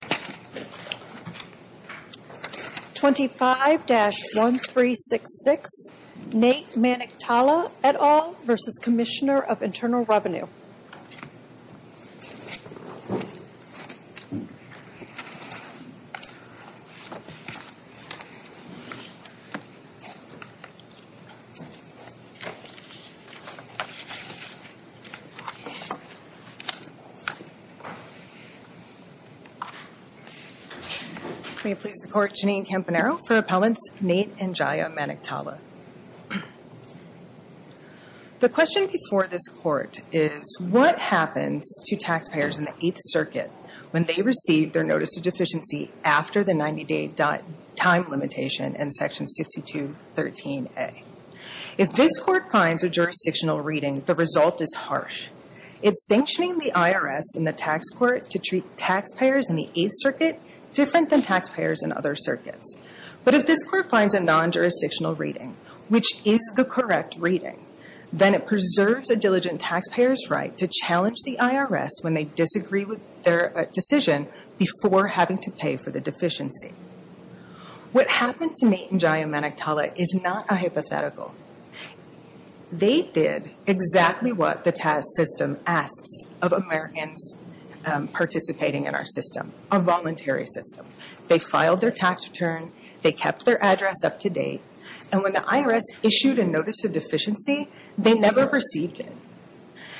25-1366 Nate Maniktala et al. v. Commissioner of Internal Revenue May it please the Court, Janine Campanaro for Appellants Nate and Jaya Maniktala. The question before this Court is, what happens to taxpayers in the Eighth Circuit when they receive their notice of deficiency after the 90-day time limitation in Section 6213a? If this Court finds a jurisdictional reading, the result is harsh. It's sanctioning the IRS in the tax court to treat taxpayers in the Eighth Circuit different than taxpayers in other circuits. But if this Court finds a non-jurisdictional reading, which is the correct reading, then it preserves a diligent taxpayer's right to challenge the IRS when they disagree with their decision before having to pay for the deficiency. What happened to Nate and Jaya Maniktala is not a hypothetical. They did exactly what the IRS system asks of Americans participating in our system, a voluntary system. They filed their tax return. They kept their address up to date. And when the IRS issued a notice of deficiency, they never received it.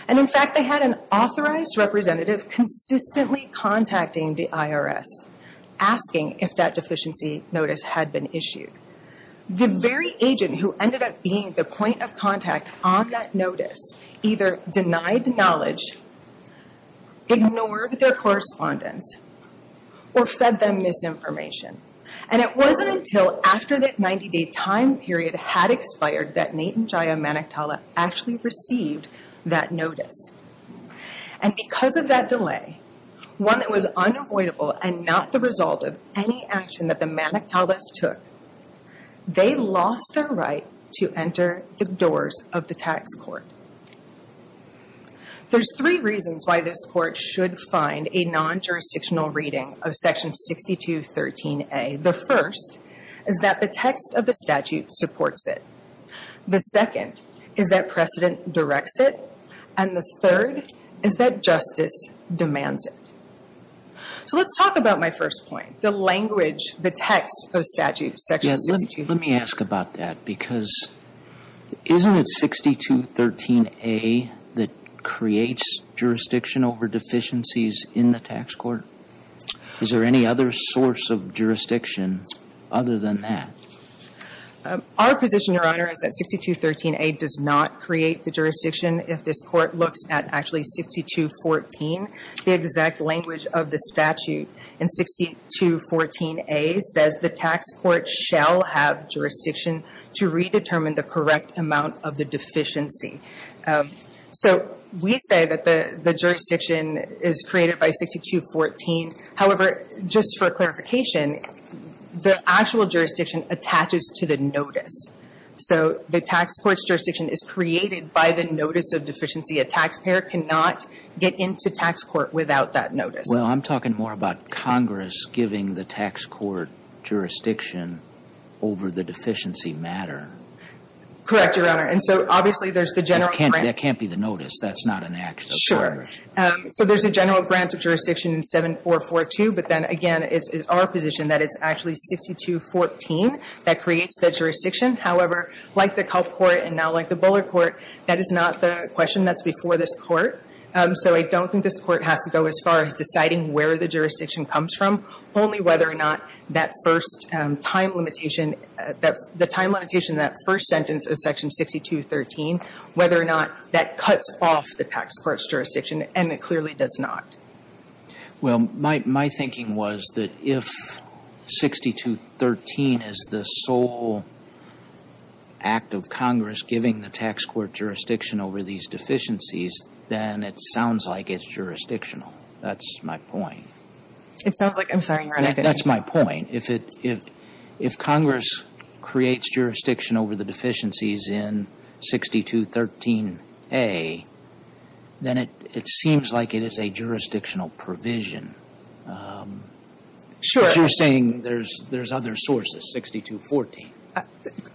And in fact, they had an authorized representative consistently contacting the IRS, asking if that deficiency notice had been issued. The very agent who ended up being the point of contact on that notice either denied knowledge, ignored their correspondence, or fed them misinformation. And it wasn't until after that 90-day time period had expired that Nate and Jaya Maniktala actually received that notice. And because of that delay, one that was unavoidable and not the result of any action that the Maniktalas took, they lost their right to enter the doors of the tax court. There's three reasons why this court should find a non-jurisdictional reading of Section 6213A. The first is that the text of the statute supports it. The second is that precedent directs it. And the third is that justice demands it. So let's talk about my first point, the language, the Isn't it 6213A that creates jurisdiction over deficiencies in the tax court? Is there any other source of jurisdiction other than that? Our position, Your Honor, is that 6213A does not create the jurisdiction. If this court looks at actually 6214, the exact language of the statute in 6214A says the tax court shall have jurisdiction to redetermine the correct amount of the deficiency. So we say that the the jurisdiction is created by 6214. However, just for clarification, the actual jurisdiction attaches to the notice. So the tax court's jurisdiction is created by the notice of deficiency. A taxpayer cannot get into tax court without that notice. Well, I'm talking more about Congress giving the tax court jurisdiction over the deficiency matter. Correct, Your Honor. And so obviously, there's the general grant. That can't be the notice. That's not an act of Congress. Sure. So there's a general grant of jurisdiction in 7442, but then again, it's our position that it's actually 6214 that creates the jurisdiction. However, like the Culp Court and now like the Bullard Court, that is not the question that's before this court. So I don't think this court has to go as far as deciding where the jurisdiction comes from. Only whether or not that first time limitation, that the time limitation, that first sentence of section 6213, whether or not that cuts off the tax court's jurisdiction. And it clearly does not. Well, my thinking was that if 6213 is the sole act of Congress giving the tax court jurisdiction over these deficiencies, then it sounds like it's jurisdictional. That's my point. It sounds like, I'm sorry, Your Honor. That's my point. If Congress creates jurisdiction over the deficiencies in 6213A, then it seems like it is a jurisdictional provision. Sure. But you're saying there's other sources, 6214.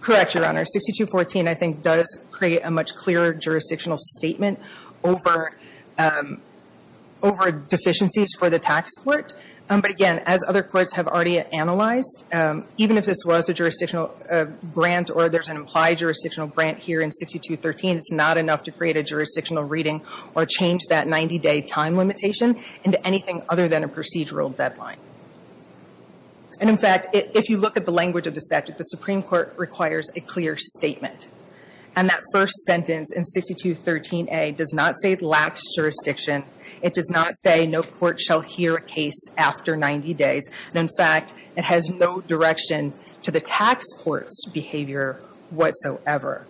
Correct, Your Honor. 6214, I think, does create a much clearer jurisdictional statement over deficiencies for the tax court. But again, as other courts have already analyzed, even if this was a jurisdictional grant or there's an implied jurisdictional grant here in 6213, it's not enough to create a jurisdictional reading or change that 90-day time limitation into anything other than a procedural deadline. And in fact, if you look at the language of the statute, the Supreme Court requires a clear statement. And that first sentence in 6213A does not say it lacks jurisdiction. It does not say no court shall hear a case after 90 days. And in fact, it has no direction to the tax court's behavior whatsoever.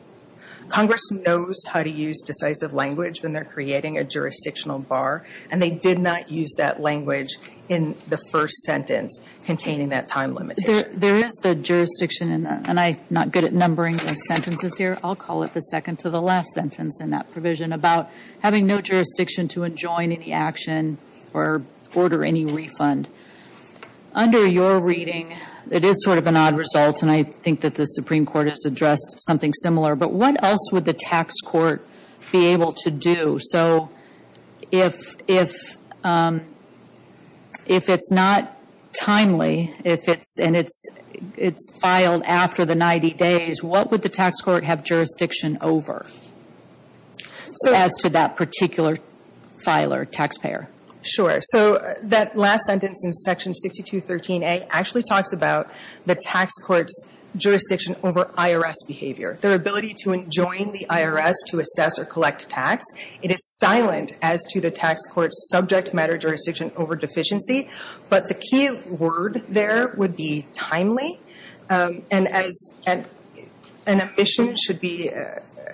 Congress knows how to use decisive language when they're creating a jurisdictional bar, and they did not use that language in the first sentence containing that time limitation. There is the jurisdiction, and I'm not good at numbering the sentences here. I'll call it the second to the last sentence in that provision about having no jurisdiction to enjoin any action or order any refund. Under your reading, it is sort of an odd result, and I think that the Supreme Court has addressed something similar. But what else would the tax court be able to do? So if it's not timely, and it's filed after the 90 days, what would the tax court have jurisdiction over as to that particular filer, taxpayer? Sure. So that last sentence in section 6213A actually talks about the tax court's jurisdiction over IRS behavior, their ability to enjoin the IRS to assess or collect tax. It is silent as to the tax court's subject matter jurisdiction over deficiency, but the key word there would be timely. And as an omission should be,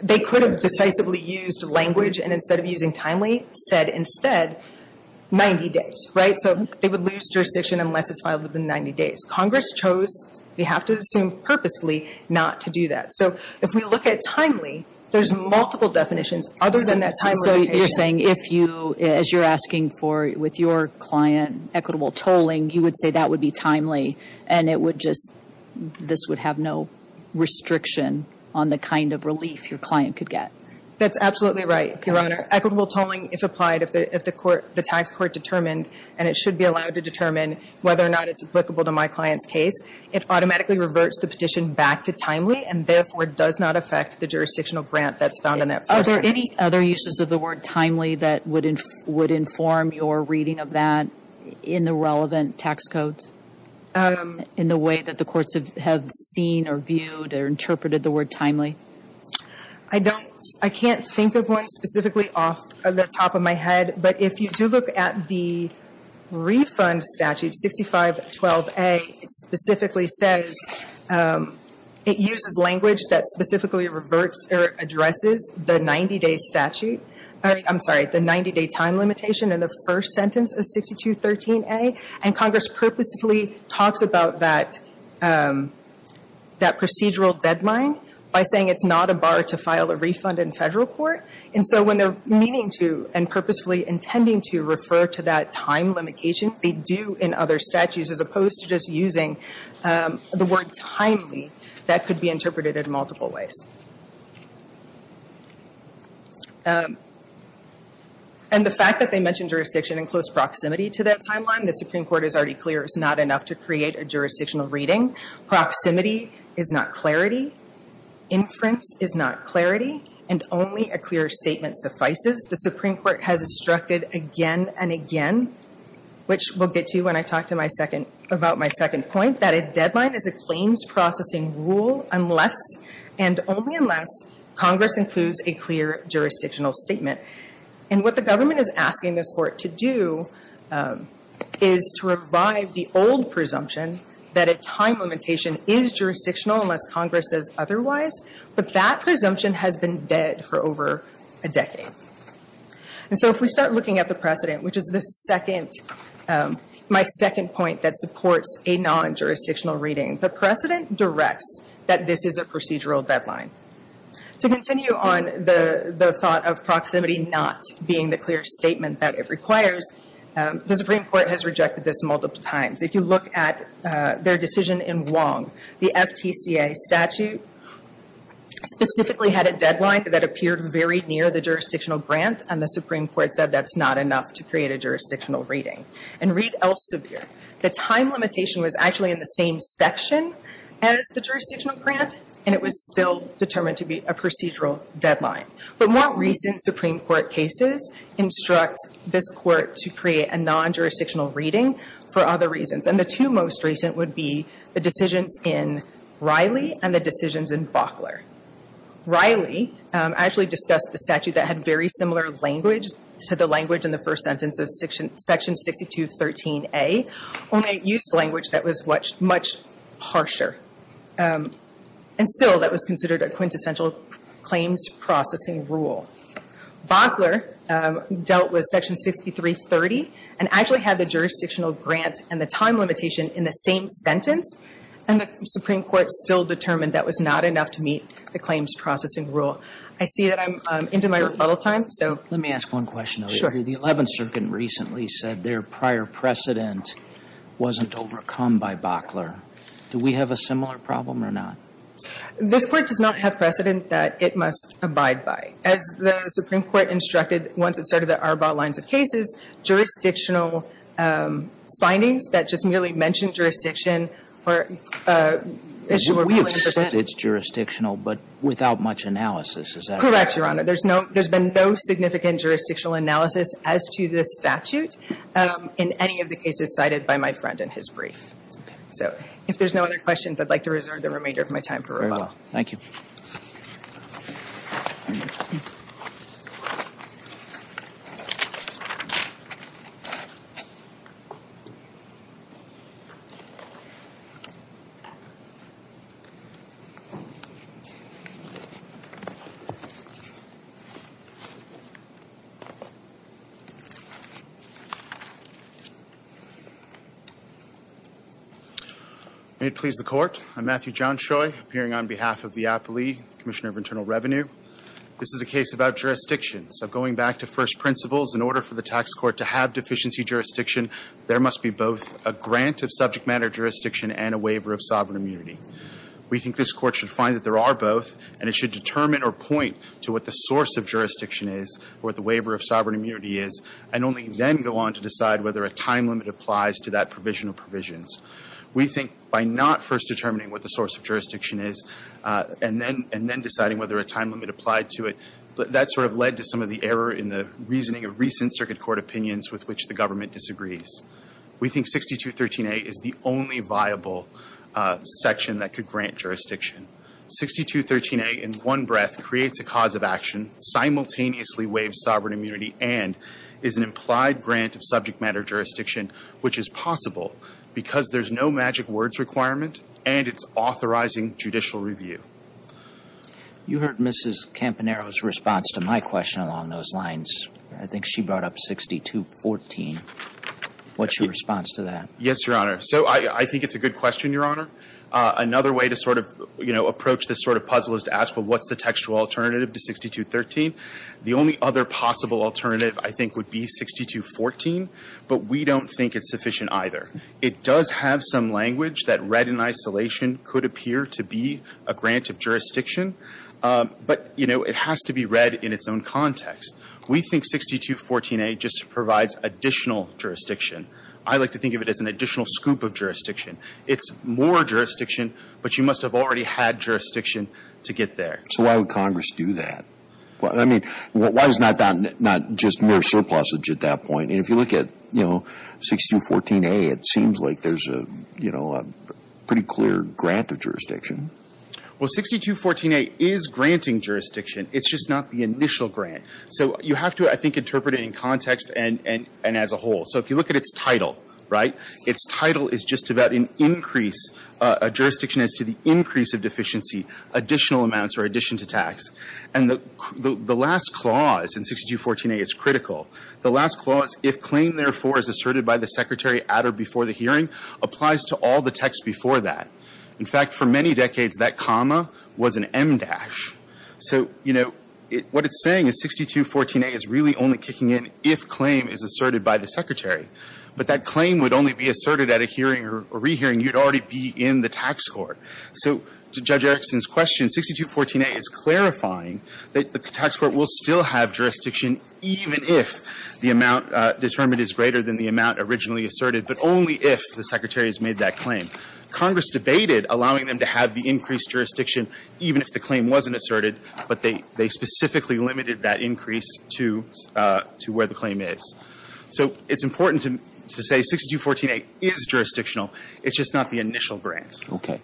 they could have decisively used language and instead of using timely, said instead 90 days, right? So they would lose jurisdiction unless it's filed within 90 days. Congress chose, they have to assume purposefully, not to do that. So if we look at timely, there's multiple definitions other than that time rotation. So you're saying if you, as you're asking for, with your client, equitable tolling, you would say that would be timely, and it would just, this would have no restriction on the kind of relief your client could get? That's absolutely right, Your Honor. Equitable tolling, if applied, if the tax court determined, and it should be allowed to determine whether or not it's applicable to my client's case, it automatically reverts the petition back to timely and therefore does not affect the jurisdictional grant that's found in that first sentence. Are there any other uses of the word timely that would inform your reading of that in the relevant tax codes? In the way that the courts have seen or viewed or interpreted the word timely? I don't, I can't think of one specifically off the top of my head, but if you do look at the refund statute, 6512A, it specifically says, it uses language that specifically reverts or addresses the 90-day statute, I'm sorry, the 90-day time limitation in the first sentence of 6213A, and Congress purposefully talks about that, that procedural deadline by saying it's not a bar to file a refund in federal court, and so when they're meaning to and purposefully intending to refer to that time limitation, they do in other statutes as opposed to just using the word timely, that could be interpreted in multiple ways. And the fact that they mention jurisdiction in close proximity to that timeline, the Supreme Court is already clear it's not enough to create a jurisdictional reading. Proximity is not clarity. Inference is not clarity. And only a clear statement suffices. The Supreme Court has instructed again and again, which we'll get to when I talk about my second point, that a deadline is a claims processing rule unless, and only unless, Congress includes a clear jurisdictional statement. And what the government is asking this court to do is to revive the old presumption that a time limitation is jurisdictional unless Congress says otherwise, but that presumption has been dead for over a decade. And so if we start looking at the precedent, which is the second, my second point that a non-jurisdictional reading, the precedent directs that this is a procedural deadline. To continue on the thought of proximity not being the clear statement that it requires, the Supreme Court has rejected this multiple times. If you look at their decision in Wong, the FTCA statute specifically had a deadline that appeared very near the jurisdictional grant, and the Supreme Court said that's not enough to create a jurisdictional reading. And read Elsevier. The time limitation was actually in the same section as the jurisdictional grant, and it was still determined to be a procedural deadline. But more recent Supreme Court cases instruct this court to create a non-jurisdictional reading for other reasons. And the two most recent would be the decisions in Riley and the decisions in Bockler. Riley actually discussed the statute that had very similar language in the first sentence of section 6213A, only it used language that was much harsher. And still that was considered a quintessential claims processing rule. Bockler dealt with section 6330, and actually had the jurisdictional grant and the time limitation in the same sentence, and the Supreme Court still determined that was not enough to meet the claims processing rule. I see that I'm into my rebuttal time, so. Let me ask one question. Sure. The 11th Circuit recently said their prior precedent wasn't overcome by Bockler. Do we have a similar problem or not? This Court does not have precedent that it must abide by. As the Supreme Court instructed once it started the Arbaugh lines of cases, jurisdictional findings that just merely mention jurisdiction or issue a ruling for someone. We have said it's jurisdictional, but without much analysis, is that correct? Correct, Your Honor. There's been no significant jurisdictional analysis as to this statute in any of the cases cited by my friend in his brief. So if there's no other questions, I'd like to reserve the remainder of my time for rebuttal. Very well. Thank you. May it please the Court. I'm Matthew Johnshoy, appearing on behalf of the APLEI, Commissioner of Internal Revenue. This is a case about jurisdiction. So going back to first principles, in order for the tax court to have deficiency jurisdiction, there must be both a grant of subject matter jurisdiction and a waiver of sovereign immunity. We think this Court should find that there are both, and it should determine or point to what the source of jurisdiction is, what the waiver of sovereign immunity is, and only then go on to decide whether a time limit applies to that provision of provisions. We think by not first determining what the source of jurisdiction is and then deciding whether a time limit applied to it, that sort of led to some of the error in the reasoning of recent circuit court opinions with which the government disagrees. We think 6213a is the only viable section that could grant jurisdiction. 6213a in one breath creates a cause of action, simultaneously waives sovereign immunity, and is an implied grant of subject matter jurisdiction, which is possible because there's no magic words requirement and it's authorizing judicial review. You heard Mrs. Campanaro's response to my question along those lines. I think she brought up 6214. What's your response to that? Yes, Your Honor. So I think it's a good question, Your Honor. Another way to sort of, you know, what's the textual alternative to 6213? The only other possible alternative, I think, would be 6214, but we don't think it's sufficient either. It does have some language that read in isolation could appear to be a grant of jurisdiction, but, you know, it has to be read in its own context. We think 6214a just provides additional jurisdiction. I like to think of it as an additional scoop of jurisdiction. It's more jurisdiction, but you must have already had jurisdiction to get there. So why would Congress do that? I mean, why is not just mere surplusage at that point? And if you look at, you know, 6214a, it seems like there's a, you know, a pretty clear grant of jurisdiction. Well, 6214a is granting jurisdiction. It's just not the initial grant. So you have to, I think, interpret it in context and as a whole. So if you look at its title, right, its title is just about an increase, a jurisdiction as to the increase of deficiency, additional amounts or addition to tax. And the last clause in 6214a is critical. The last clause, if claim, therefore, is asserted by the Secretary at or before the hearing, applies to all the texts before that. In fact, for many decades, that comma was an em dash. So, you know, what it's saying is 6214a is really only kicking in if claim is asserted by the Secretary. But that claim would only be asserted at a hearing or rehearing. You'd already be in the tax court. So to Judge Erickson's question, 6214a is clarifying that the tax court will still have jurisdiction even if the amount determined is greater than the amount originally asserted, but only if the Secretary has made that claim. Congress debated allowing them to have the increased jurisdiction even if the claim wasn't asserted, but they specifically limited that increase to where the claim is. So it's important to say 6214a is jurisdictional. It's just not the initial grant. Okay.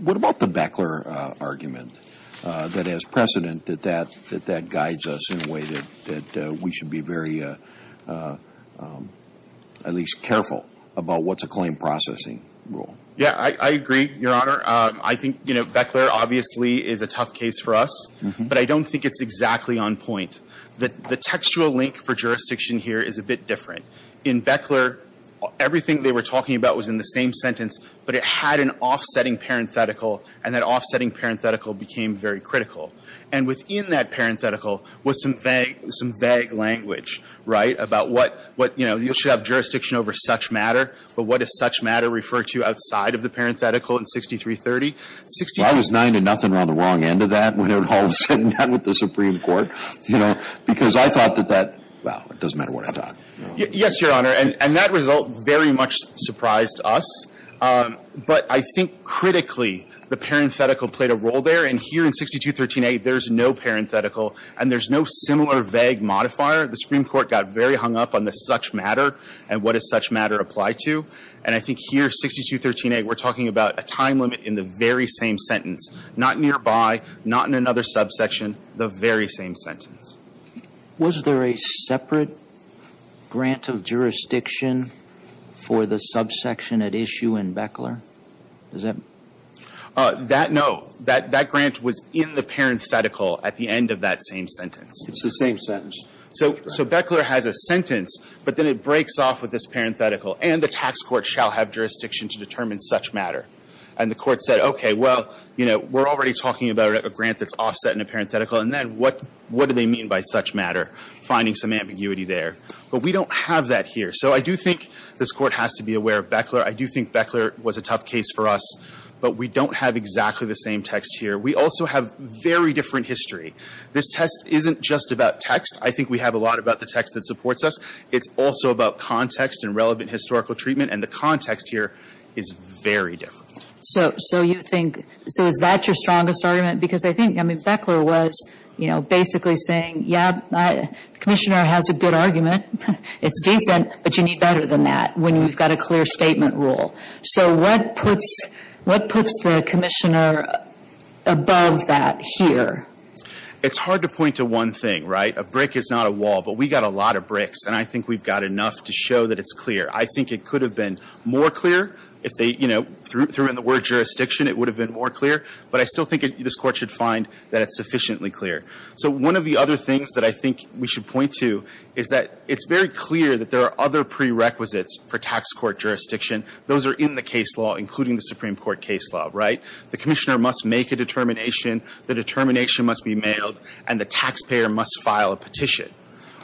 What about the Beckler argument that has precedent that that guides us in a way that we should be very, at least, careful about what's a claim processing rule? Yeah, I agree, Your Honor. I think, you know, Beckler obviously is a tough case for us, but I don't think it's exactly on point. The textual link for jurisdiction here is a bit different. In Beckler, everything they were talking about was in the same sentence, but it had an offsetting parenthetical, and that offsetting parenthetical became very critical. And within that parenthetical was some vague language, right, about what, you know, you should have jurisdiction over such matter, but what does such matter refer to outside of the parenthetical in 6330? Well, I was nine to nothing on the wrong end of that when it all was sitting down with the Supreme Court, you know, because I thought that that, well, it doesn't matter what I thought. Yes, Your Honor, and that result very much surprised us. But I think critically, the parenthetical played a role there, and here in 6213a, there's no parenthetical and there's no similar vague modifier. The Supreme Court got very hung up on the such matter and what does such matter apply to. And I think here, 6213a, we're talking about a time limit in the very same sentence, not nearby, not in another subsection, the very same sentence. Was there a separate grant of jurisdiction for the subsection at issue in Beckler? Is that? That, no. That grant was in the parenthetical at the end of that same sentence. It's the same sentence. So Beckler has a sentence, but then it breaks off with this parenthetical, and the tax court shall have jurisdiction to determine such matter. And the court said, okay, well, you know, we're already talking about a grant that's offset in a finding some ambiguity there. But we don't have that here. So I do think this Court has to be aware of Beckler. I do think Beckler was a tough case for us, but we don't have exactly the same text here. We also have very different history. This test isn't just about text. I think we have a lot about the text that supports us. It's also about context and relevant historical treatment, and the context here is very different. So you think – so is that your strongest argument? Because I think, I mean, you're basically saying, yeah, the Commissioner has a good argument. It's decent, but you need better than that when you've got a clear statement rule. So what puts the Commissioner above that here? It's hard to point to one thing, right? A brick is not a wall, but we've got a lot of bricks, and I think we've got enough to show that it's clear. I think it could have been more clear if they, you know, threw in the word jurisdiction, it would have been more clear. But I still think this Court should find that it's sufficiently clear. So one of the other things that I think we should point to is that it's very clear that there are other prerequisites for tax court jurisdiction. Those are in the case law, including the Supreme Court case law, right? The Commissioner must make a determination, the determination must be mailed, and the taxpayer must file a petition.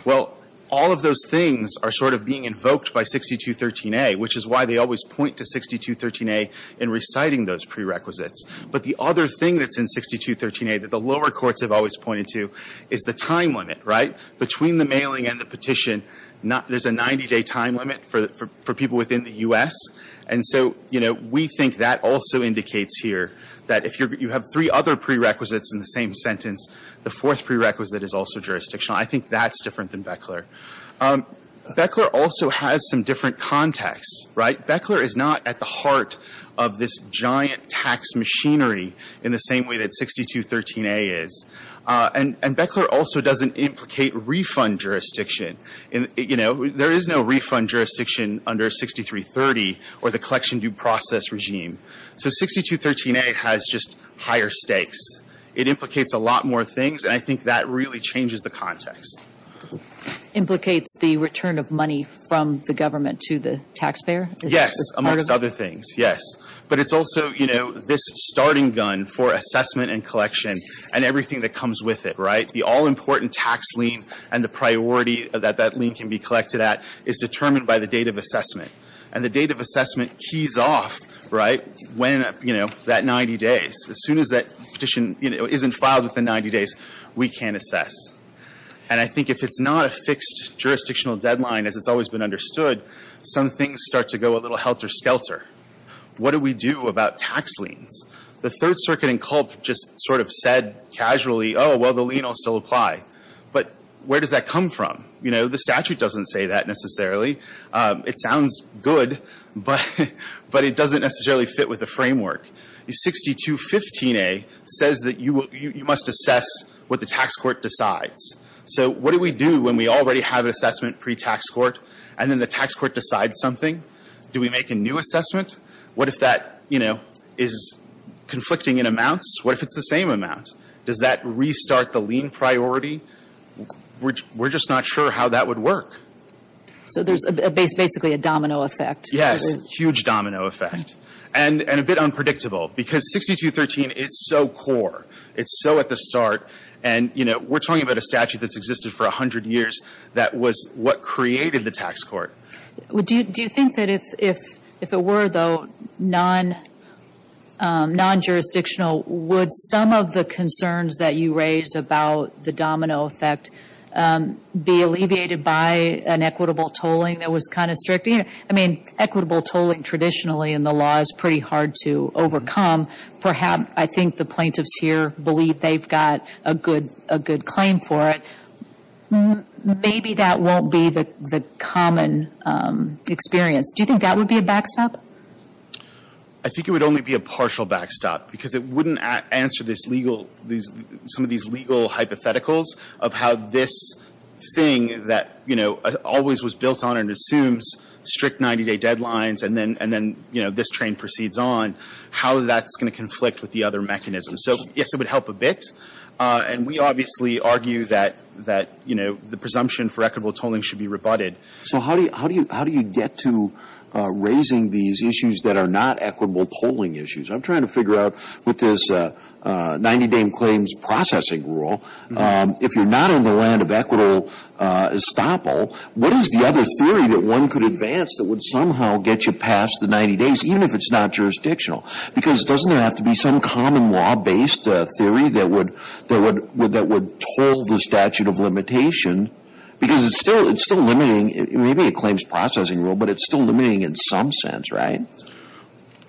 Well, all of those things are sort of being invoked by 6213A, which is why they always point to 6213A in reciting those prerequisites. But the other thing that's in 6213A that the lower courts have always pointed to is the time limit, right? Between the mailing and the petition, there's a 90-day time limit for people within the U.S. And so, you know, we think that also indicates here that if you have three other prerequisites in the same sentence, the fourth prerequisite is also jurisdictional. I think that's different than Beckler. Beckler also has some different context, right? Beckler is not at the heart of this giant tax machinery in the same way that 6213A is. And Beckler also doesn't implicate refund jurisdiction. You know, there is no refund jurisdiction under 6330 or the collection due process regime. So 6213A has just higher stakes. It implicates a lot more things, and I think that really changes the context. Implicates the return of money from the government to the taxpayer? Yes, amongst other things, yes. But it's also, you know, this starting gun for assessment and collection and everything that comes with it, right? The all-important tax lien and the priority that that lien can be collected at is determined by the date of assessment. And the date of assessment keys off, right, when, you know, that 90 days. As soon as that petition, you know, isn't filed within 90 days, we can't assess. And I think if it's not a fixed jurisdictional deadline, as it's always been understood, some things start to go a little helter-skelter. What do we do about tax liens? The Third Circuit in Culp just sort of said casually, oh, well, the lien will still apply. But where does that come from? You know, the statute doesn't say that necessarily. It sounds good, but it doesn't necessarily fit with the framework. 6215A says that you must assess what the tax court decides. So what do we do when we already have an assessment pre-tax court, and then the tax court decides something? Do we make a new assessment? What if that, you know, is conflicting in amounts? What if it's the same amount? Does that restart the lien priority? We're just not sure how that would work. So there's basically a domino effect. Yes, a huge domino effect. And a bit unpredictable, because 6213 is so core. It's so at the start. And, you know, we're talking about a statute that's existed for 100 years that was what created the tax court. Do you think that if it were, though, non-jurisdictional, would some of the concerns that you raised about the domino effect be alleviated by an equitable tolling that was kind of strict? I mean, equitable tolling traditionally in the law is pretty hard to overcome. Perhaps I think the plaintiffs here believe they've got a good claim for it. Maybe that won't be the common experience. Do you think that would be a backstop? I think it would only be a partial backstop, because it wouldn't answer some of these legal hypotheticals of how this thing that, you know, always was built on and assumes strict 90-day deadlines and then, you know, this train proceeds on, how that's going to conflict with the other mechanisms. So, yes, it would help a bit. And we obviously argue that, you know, the presumption for equitable tolling should be rebutted. So how do you get to raising these issues that are not equitable tolling issues? I'm trying to figure out with this 90-day claims processing rule, if you're not on the equitable estoppel, what is the other theory that one could advance that would somehow get you past the 90 days, even if it's not jurisdictional? Because doesn't there have to be some common law-based theory that would toll the statute of limitation? Because it's still limiting. Maybe it claims processing rule, but it's still limiting in some sense, right?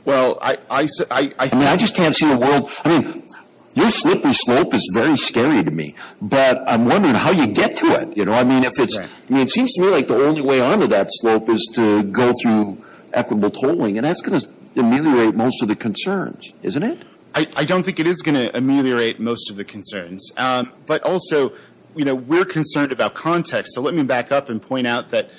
Well, I just can't see the world. I mean, your slippery slope is very scary to me. But I'm wondering how you get to it, you know? I mean, it seems to me like the only way onto that slope is to go through equitable tolling. And that's going to ameliorate most of the concerns, isn't it? I don't think it is going to ameliorate most of the concerns. But also, you know, we're concerned about context. So let me back up and point out that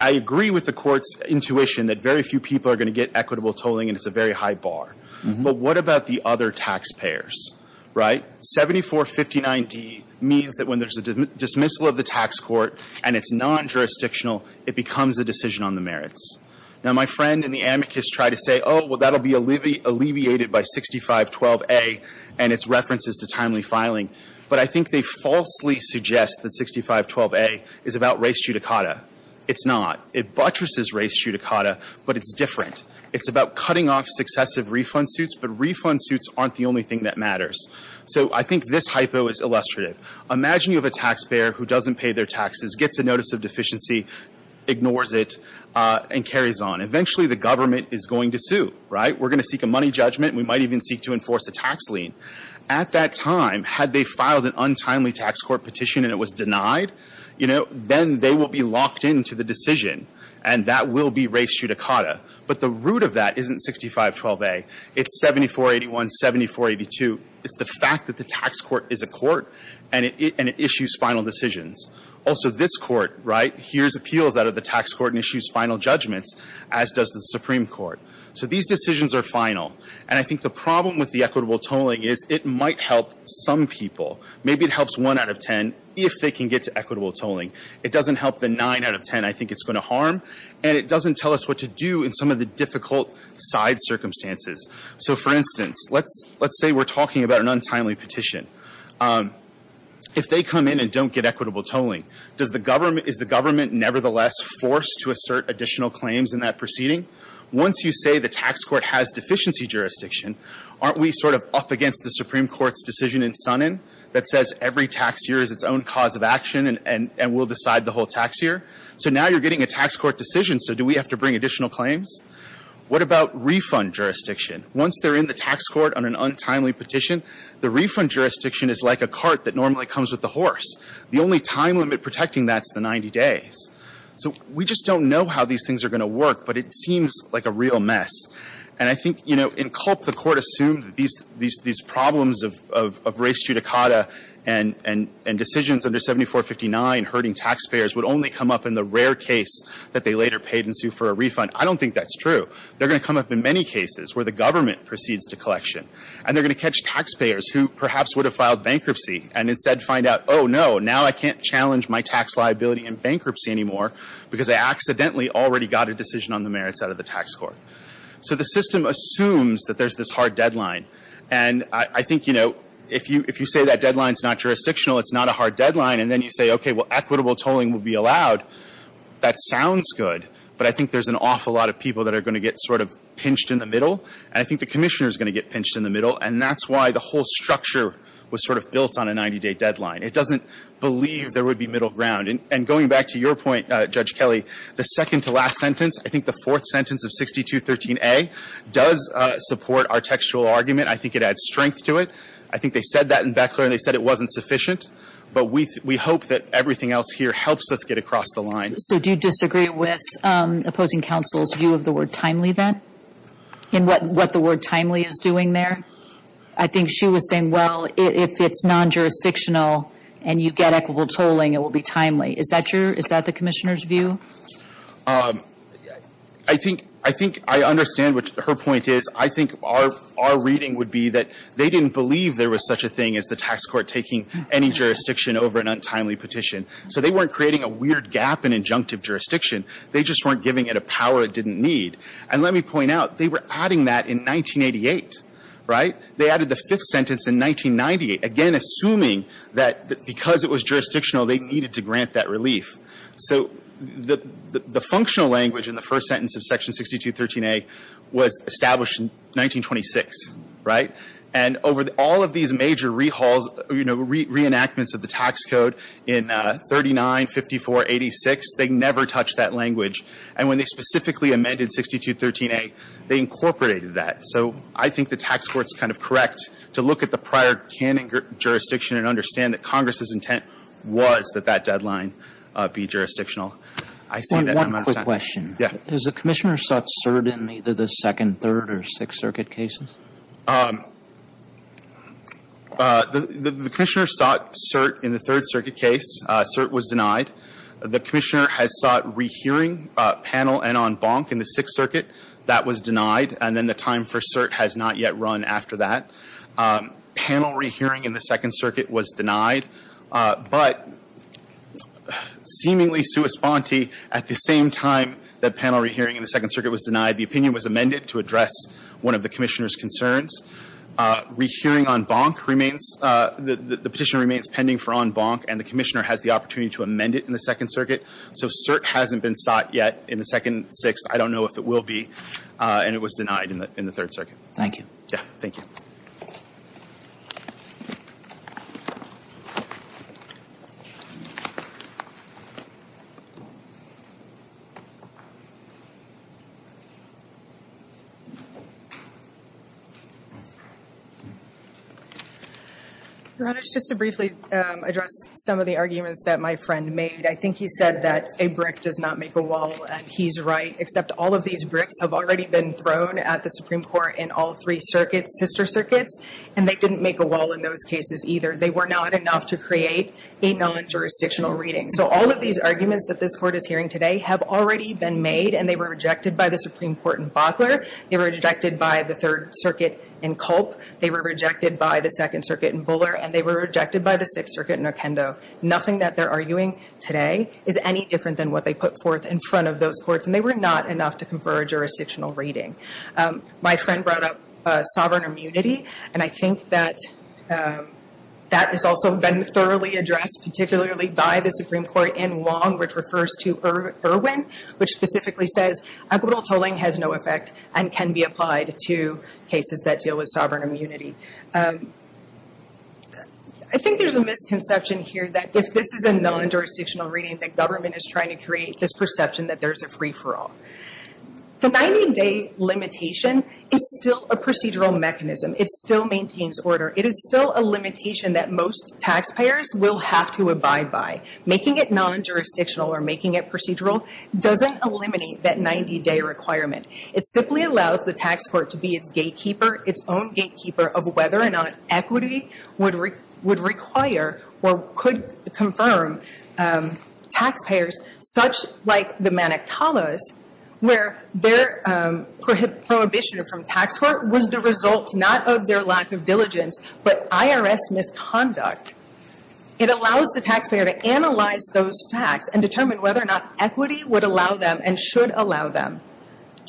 I agree with the Court's intuition that very few people are going to get equitable tolling and it's a very high bar. But what about the other taxpayers, right? 7459d means that when there's a dismissal of the tax court and it's non-jurisdictional, it becomes a decision on the merits. Now, my friend in the amicus tried to say, oh, well, that will be alleviated by 6512a and its references to timely filing. But I think they falsely suggest that 6512a is about res judicata. It's not. It buttresses res judicata, but it's different. It's about cutting off successive refund suits, but refund suits aren't the only thing that matters. So I think this hypo is illustrative. Imagine you have a taxpayer who doesn't pay their taxes, gets a notice of deficiency, ignores it, and carries on. Eventually, the government is going to sue, right? We're going to seek a money judgment. We might even seek to enforce a tax lien. At that time, had they filed an untimely tax court petition and it was denied, you know, then they will be locked into the decision and that will be res judicata. But the root of that isn't 6512a. It's 7481, 7482. It's the fact that the tax court is a court and it issues final decisions. Also, this court, right, hears appeals out of the tax court and issues final judgments, as does the Supreme Court. So these decisions are final. And I think the problem with the equitable tolling is it might help some people. Maybe it helps 1 out of 10 if they can get to equitable tolling. It doesn't help the 9 out of 10 I think it's going to harm. And it doesn't tell us what to do in some of the difficult side circumstances. So, for instance, let's say we're talking about an untimely petition. If they come in and don't get equitable tolling, is the government nevertheless forced to assert additional claims in that proceeding? Once you say the tax court has deficiency jurisdiction, aren't we sort of up against the Supreme Court's decision in Sunnan that says every tax year is its own cause of action and we'll decide the whole tax year? So now you're getting a tax court decision, so do we have to bring additional claims? What about refund jurisdiction? Once they're in the tax court on an untimely petition, the refund jurisdiction is like a cart that normally comes with the horse. The only time limit protecting that is the 90 days. So we just don't know how these things are going to work, but it seems like a real mess. And I think, you know, in Culp the court assumed these problems of race judicata and decisions under 7459 hurting taxpayers would only come up in the rare case that they later paid in sue for a refund. I don't think that's true. They're going to come up in many cases where the government proceeds to collection, and they're going to catch taxpayers who perhaps would have filed bankruptcy and instead find out, oh, no, now I can't challenge my tax liability in bankruptcy anymore because I accidentally already got a decision on the merits out of the tax court. So the system assumes that there's this hard deadline. And I think, you know, if you say that deadline's not jurisdictional, it's not a hard deadline, and then you say, okay, well, equitable tolling will be allowed, that sounds good, but I think there's an awful lot of people that are going to get sort of pinched in the middle, and I think the Commissioner's going to get pinched in the middle, and that's why the whole structure was sort of built on a 90-day deadline. It doesn't believe there would be middle ground. And going back to your point, Judge Kelly, the second-to-last sentence, I think the fourth sentence of 6213A does support our textual argument. I think it adds strength to it. I think they said that in Beckler, and they said it wasn't sufficient, but we hope that everything else here helps us get across the line. So do you disagree with opposing counsel's view of the word timely then and what the word timely is doing there? I think she was saying, well, if it's non-jurisdictional and you get equitable tolling, it will be timely. Is that true? Is that the Commissioner's view? I think I understand what her point is. I think our reading would be that they didn't believe there was such a thing as the tax court taking any jurisdiction over an untimely petition. So they weren't creating a weird gap in injunctive jurisdiction. They just weren't giving it a power it didn't need. And let me point out, they were adding that in 1988, right? They added the fifth sentence in 1998, again, assuming that because it was jurisdictional, they needed to grant that relief. So the functional language in the first sentence of Section 6213A was established in 1926, right? And over all of these major reenactments of the tax code in 39, 54, 86, they never touched that language. And when they specifically amended 6213A, they incorporated that. So I think the tax court is kind of correct to look at the prior canon jurisdiction and understand that Congress's intent was that that deadline be jurisdictional. I see that I'm out of time. One quick question. Yeah. Has the Commissioner sought cert in either the Second, Third, or Sixth Circuit cases? The Commissioner sought cert in the Third Circuit case. Cert was denied. The Commissioner has sought rehearing panel and on bonk in the Sixth Circuit. That was denied. And then the time for cert has not yet run after that. Panel rehearing in the Second Circuit was denied. But seemingly sua sponte, at the same time that panel rehearing in the Second Circuit was denied, the opinion was amended to address one of the Commissioner's concerns. Rehearing on bonk remains the Petitioner remains pending for on bonk, and the Commissioner has the opportunity to amend it in the Second Circuit. So cert hasn't been sought yet in the Second, Sixth. I don't know if it will be. And it was denied in the Third Circuit. Thank you. Yeah, thank you. Your Honor, just to briefly address some of the arguments that my friend made, I think he said that a brick does not make a wall, and he's right, except all of these bricks have already been thrown at the Supreme Court in all three circuits, sister circuits, and they didn't make a wall in those cases either. They were not enough to create a non-jurisdictional reading. So all of these arguments that this Court is hearing today have already been made, and they were rejected by the Supreme Court in Butler. They were rejected by the Third Circuit in Culp. They were rejected by the Second Circuit in Buller, and they were rejected by the Sixth Circuit in Arquendo. Nothing that they're arguing today is any different than what they put forth in front of those courts, and they were not enough to confer a jurisdictional reading. My friend brought up sovereign immunity, and I think that that has also been thoroughly addressed, particularly by the Supreme Court in Wong, which refers to Irwin, which specifically says equitable tolling has no effect and can be applied to cases that deal with sovereign immunity. I think there's a misconception here that if this is a non-jurisdictional reading, that government is trying to create this perception that there's a free-for-all. The 90-day limitation is still a procedural mechanism. It still maintains order. It is still a limitation that most taxpayers will have to abide by. Making it non-jurisdictional or making it procedural doesn't eliminate that 90-day requirement. It simply allows the tax court to be its gatekeeper, its own gatekeeper of whether or not equity would require or could confirm taxpayers, such like the Manitoulos, where their prohibition from tax court was the result not of their lack of diligence, but IRS misconduct. It allows the taxpayer to analyze those facts and determine whether or not equity would allow them and should allow them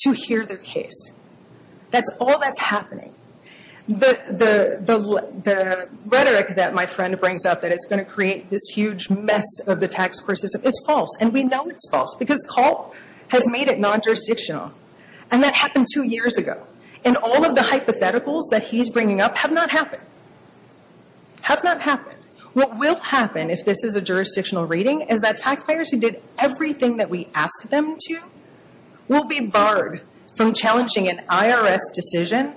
to hear their case. That's all that's happening. The rhetoric that my friend brings up, that it's going to create this huge mess of the tax court system, is false. And we know it's false because Calt has made it non-jurisdictional. And that happened two years ago. And all of the hypotheticals that he's bringing up have not happened. Have not happened. What will happen if this is a jurisdictional reading is that taxpayers who did everything that we asked them to will be barred from challenging an IRS decision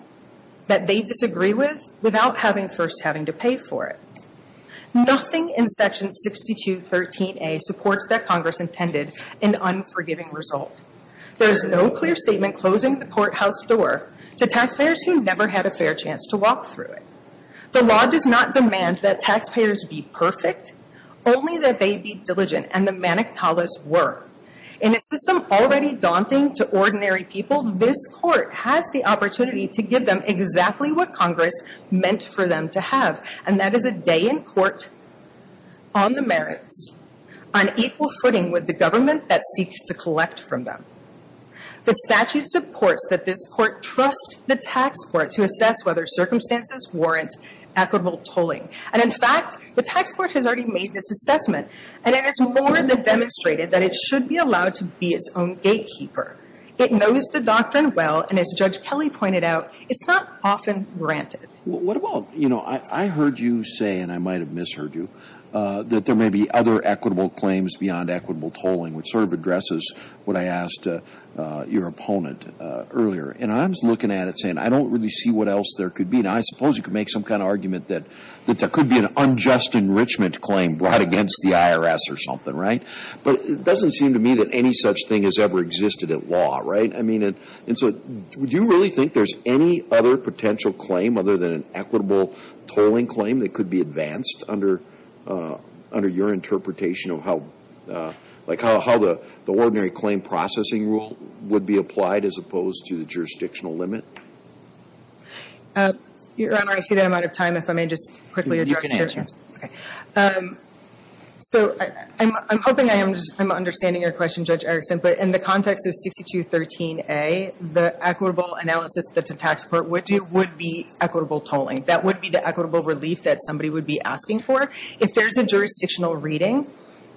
that they disagree with without first having to pay for it. Nothing in Section 6213A supports that Congress intended an unforgiving result. There is no clear statement closing the courthouse door to taxpayers who never had a fair chance to walk through it. The law does not demand that taxpayers be perfect, only that they be diligent, and the Manitoulos were. In a system already daunting to ordinary people, this court has the opportunity to give them exactly what Congress meant for them to have. And that is a day in court on the merits, on equal footing with the government that seeks to collect from them. The statute supports that this court trust the tax court to assess whether circumstances warrant equitable tolling. And in fact, the tax court has already made this assessment. And it has more than demonstrated that it should be allowed to be its own gatekeeper. It knows the doctrine well, and as Judge Kelly pointed out, it's not often granted. What about, you know, I heard you say, and I might have misheard you, that there may be other equitable claims beyond equitable tolling, which sort of addresses what I asked your opponent earlier. And I'm looking at it saying I don't really see what else there could be. I mean, I suppose you could make some kind of argument that there could be an unjust enrichment claim brought against the IRS or something, right? But it doesn't seem to me that any such thing has ever existed at law, right? I mean, and so do you really think there's any other potential claim other than an equitable tolling claim that could be advanced under your interpretation of how the ordinary claim processing rule would be applied as opposed to the jurisdictional limit? Your Honor, I see that I'm out of time. If I may just quickly address your question. Okay. So I'm hoping I'm understanding your question, Judge Erickson, but in the context of 6213A, the equitable analysis that the tax court would do would be equitable tolling. That would be the equitable relief that somebody would be asking for. If there's a jurisdictional reading,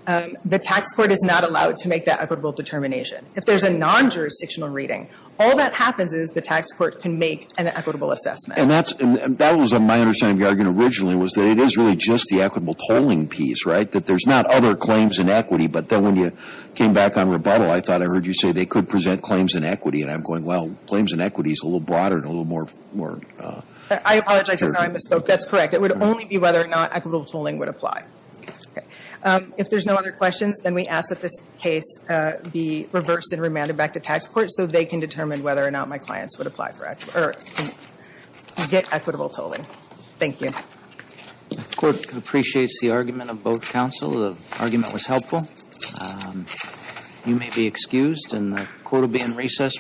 the tax court is not allowed to make that equitable determination. If there's a non-jurisdictional reading, all that happens is the tax court can make an equitable assessment. And that was my understanding of your argument originally was that it is really just the equitable tolling piece, right? That there's not other claims in equity. But then when you came back on rebuttal, I thought I heard you say they could present claims in equity. And I'm going, well, claims in equity is a little broader and a little more. I apologize. I misspoke. That's correct. It would only be whether or not equitable tolling would apply. Okay. If there's no other questions, then we ask that this case be reversed and remanded back to tax court so they can determine whether or not my clients would get equitable tolling. Thank you. The court appreciates the argument of both counsel. The argument was helpful. You may be excused, and the court will be in recess for a few minutes.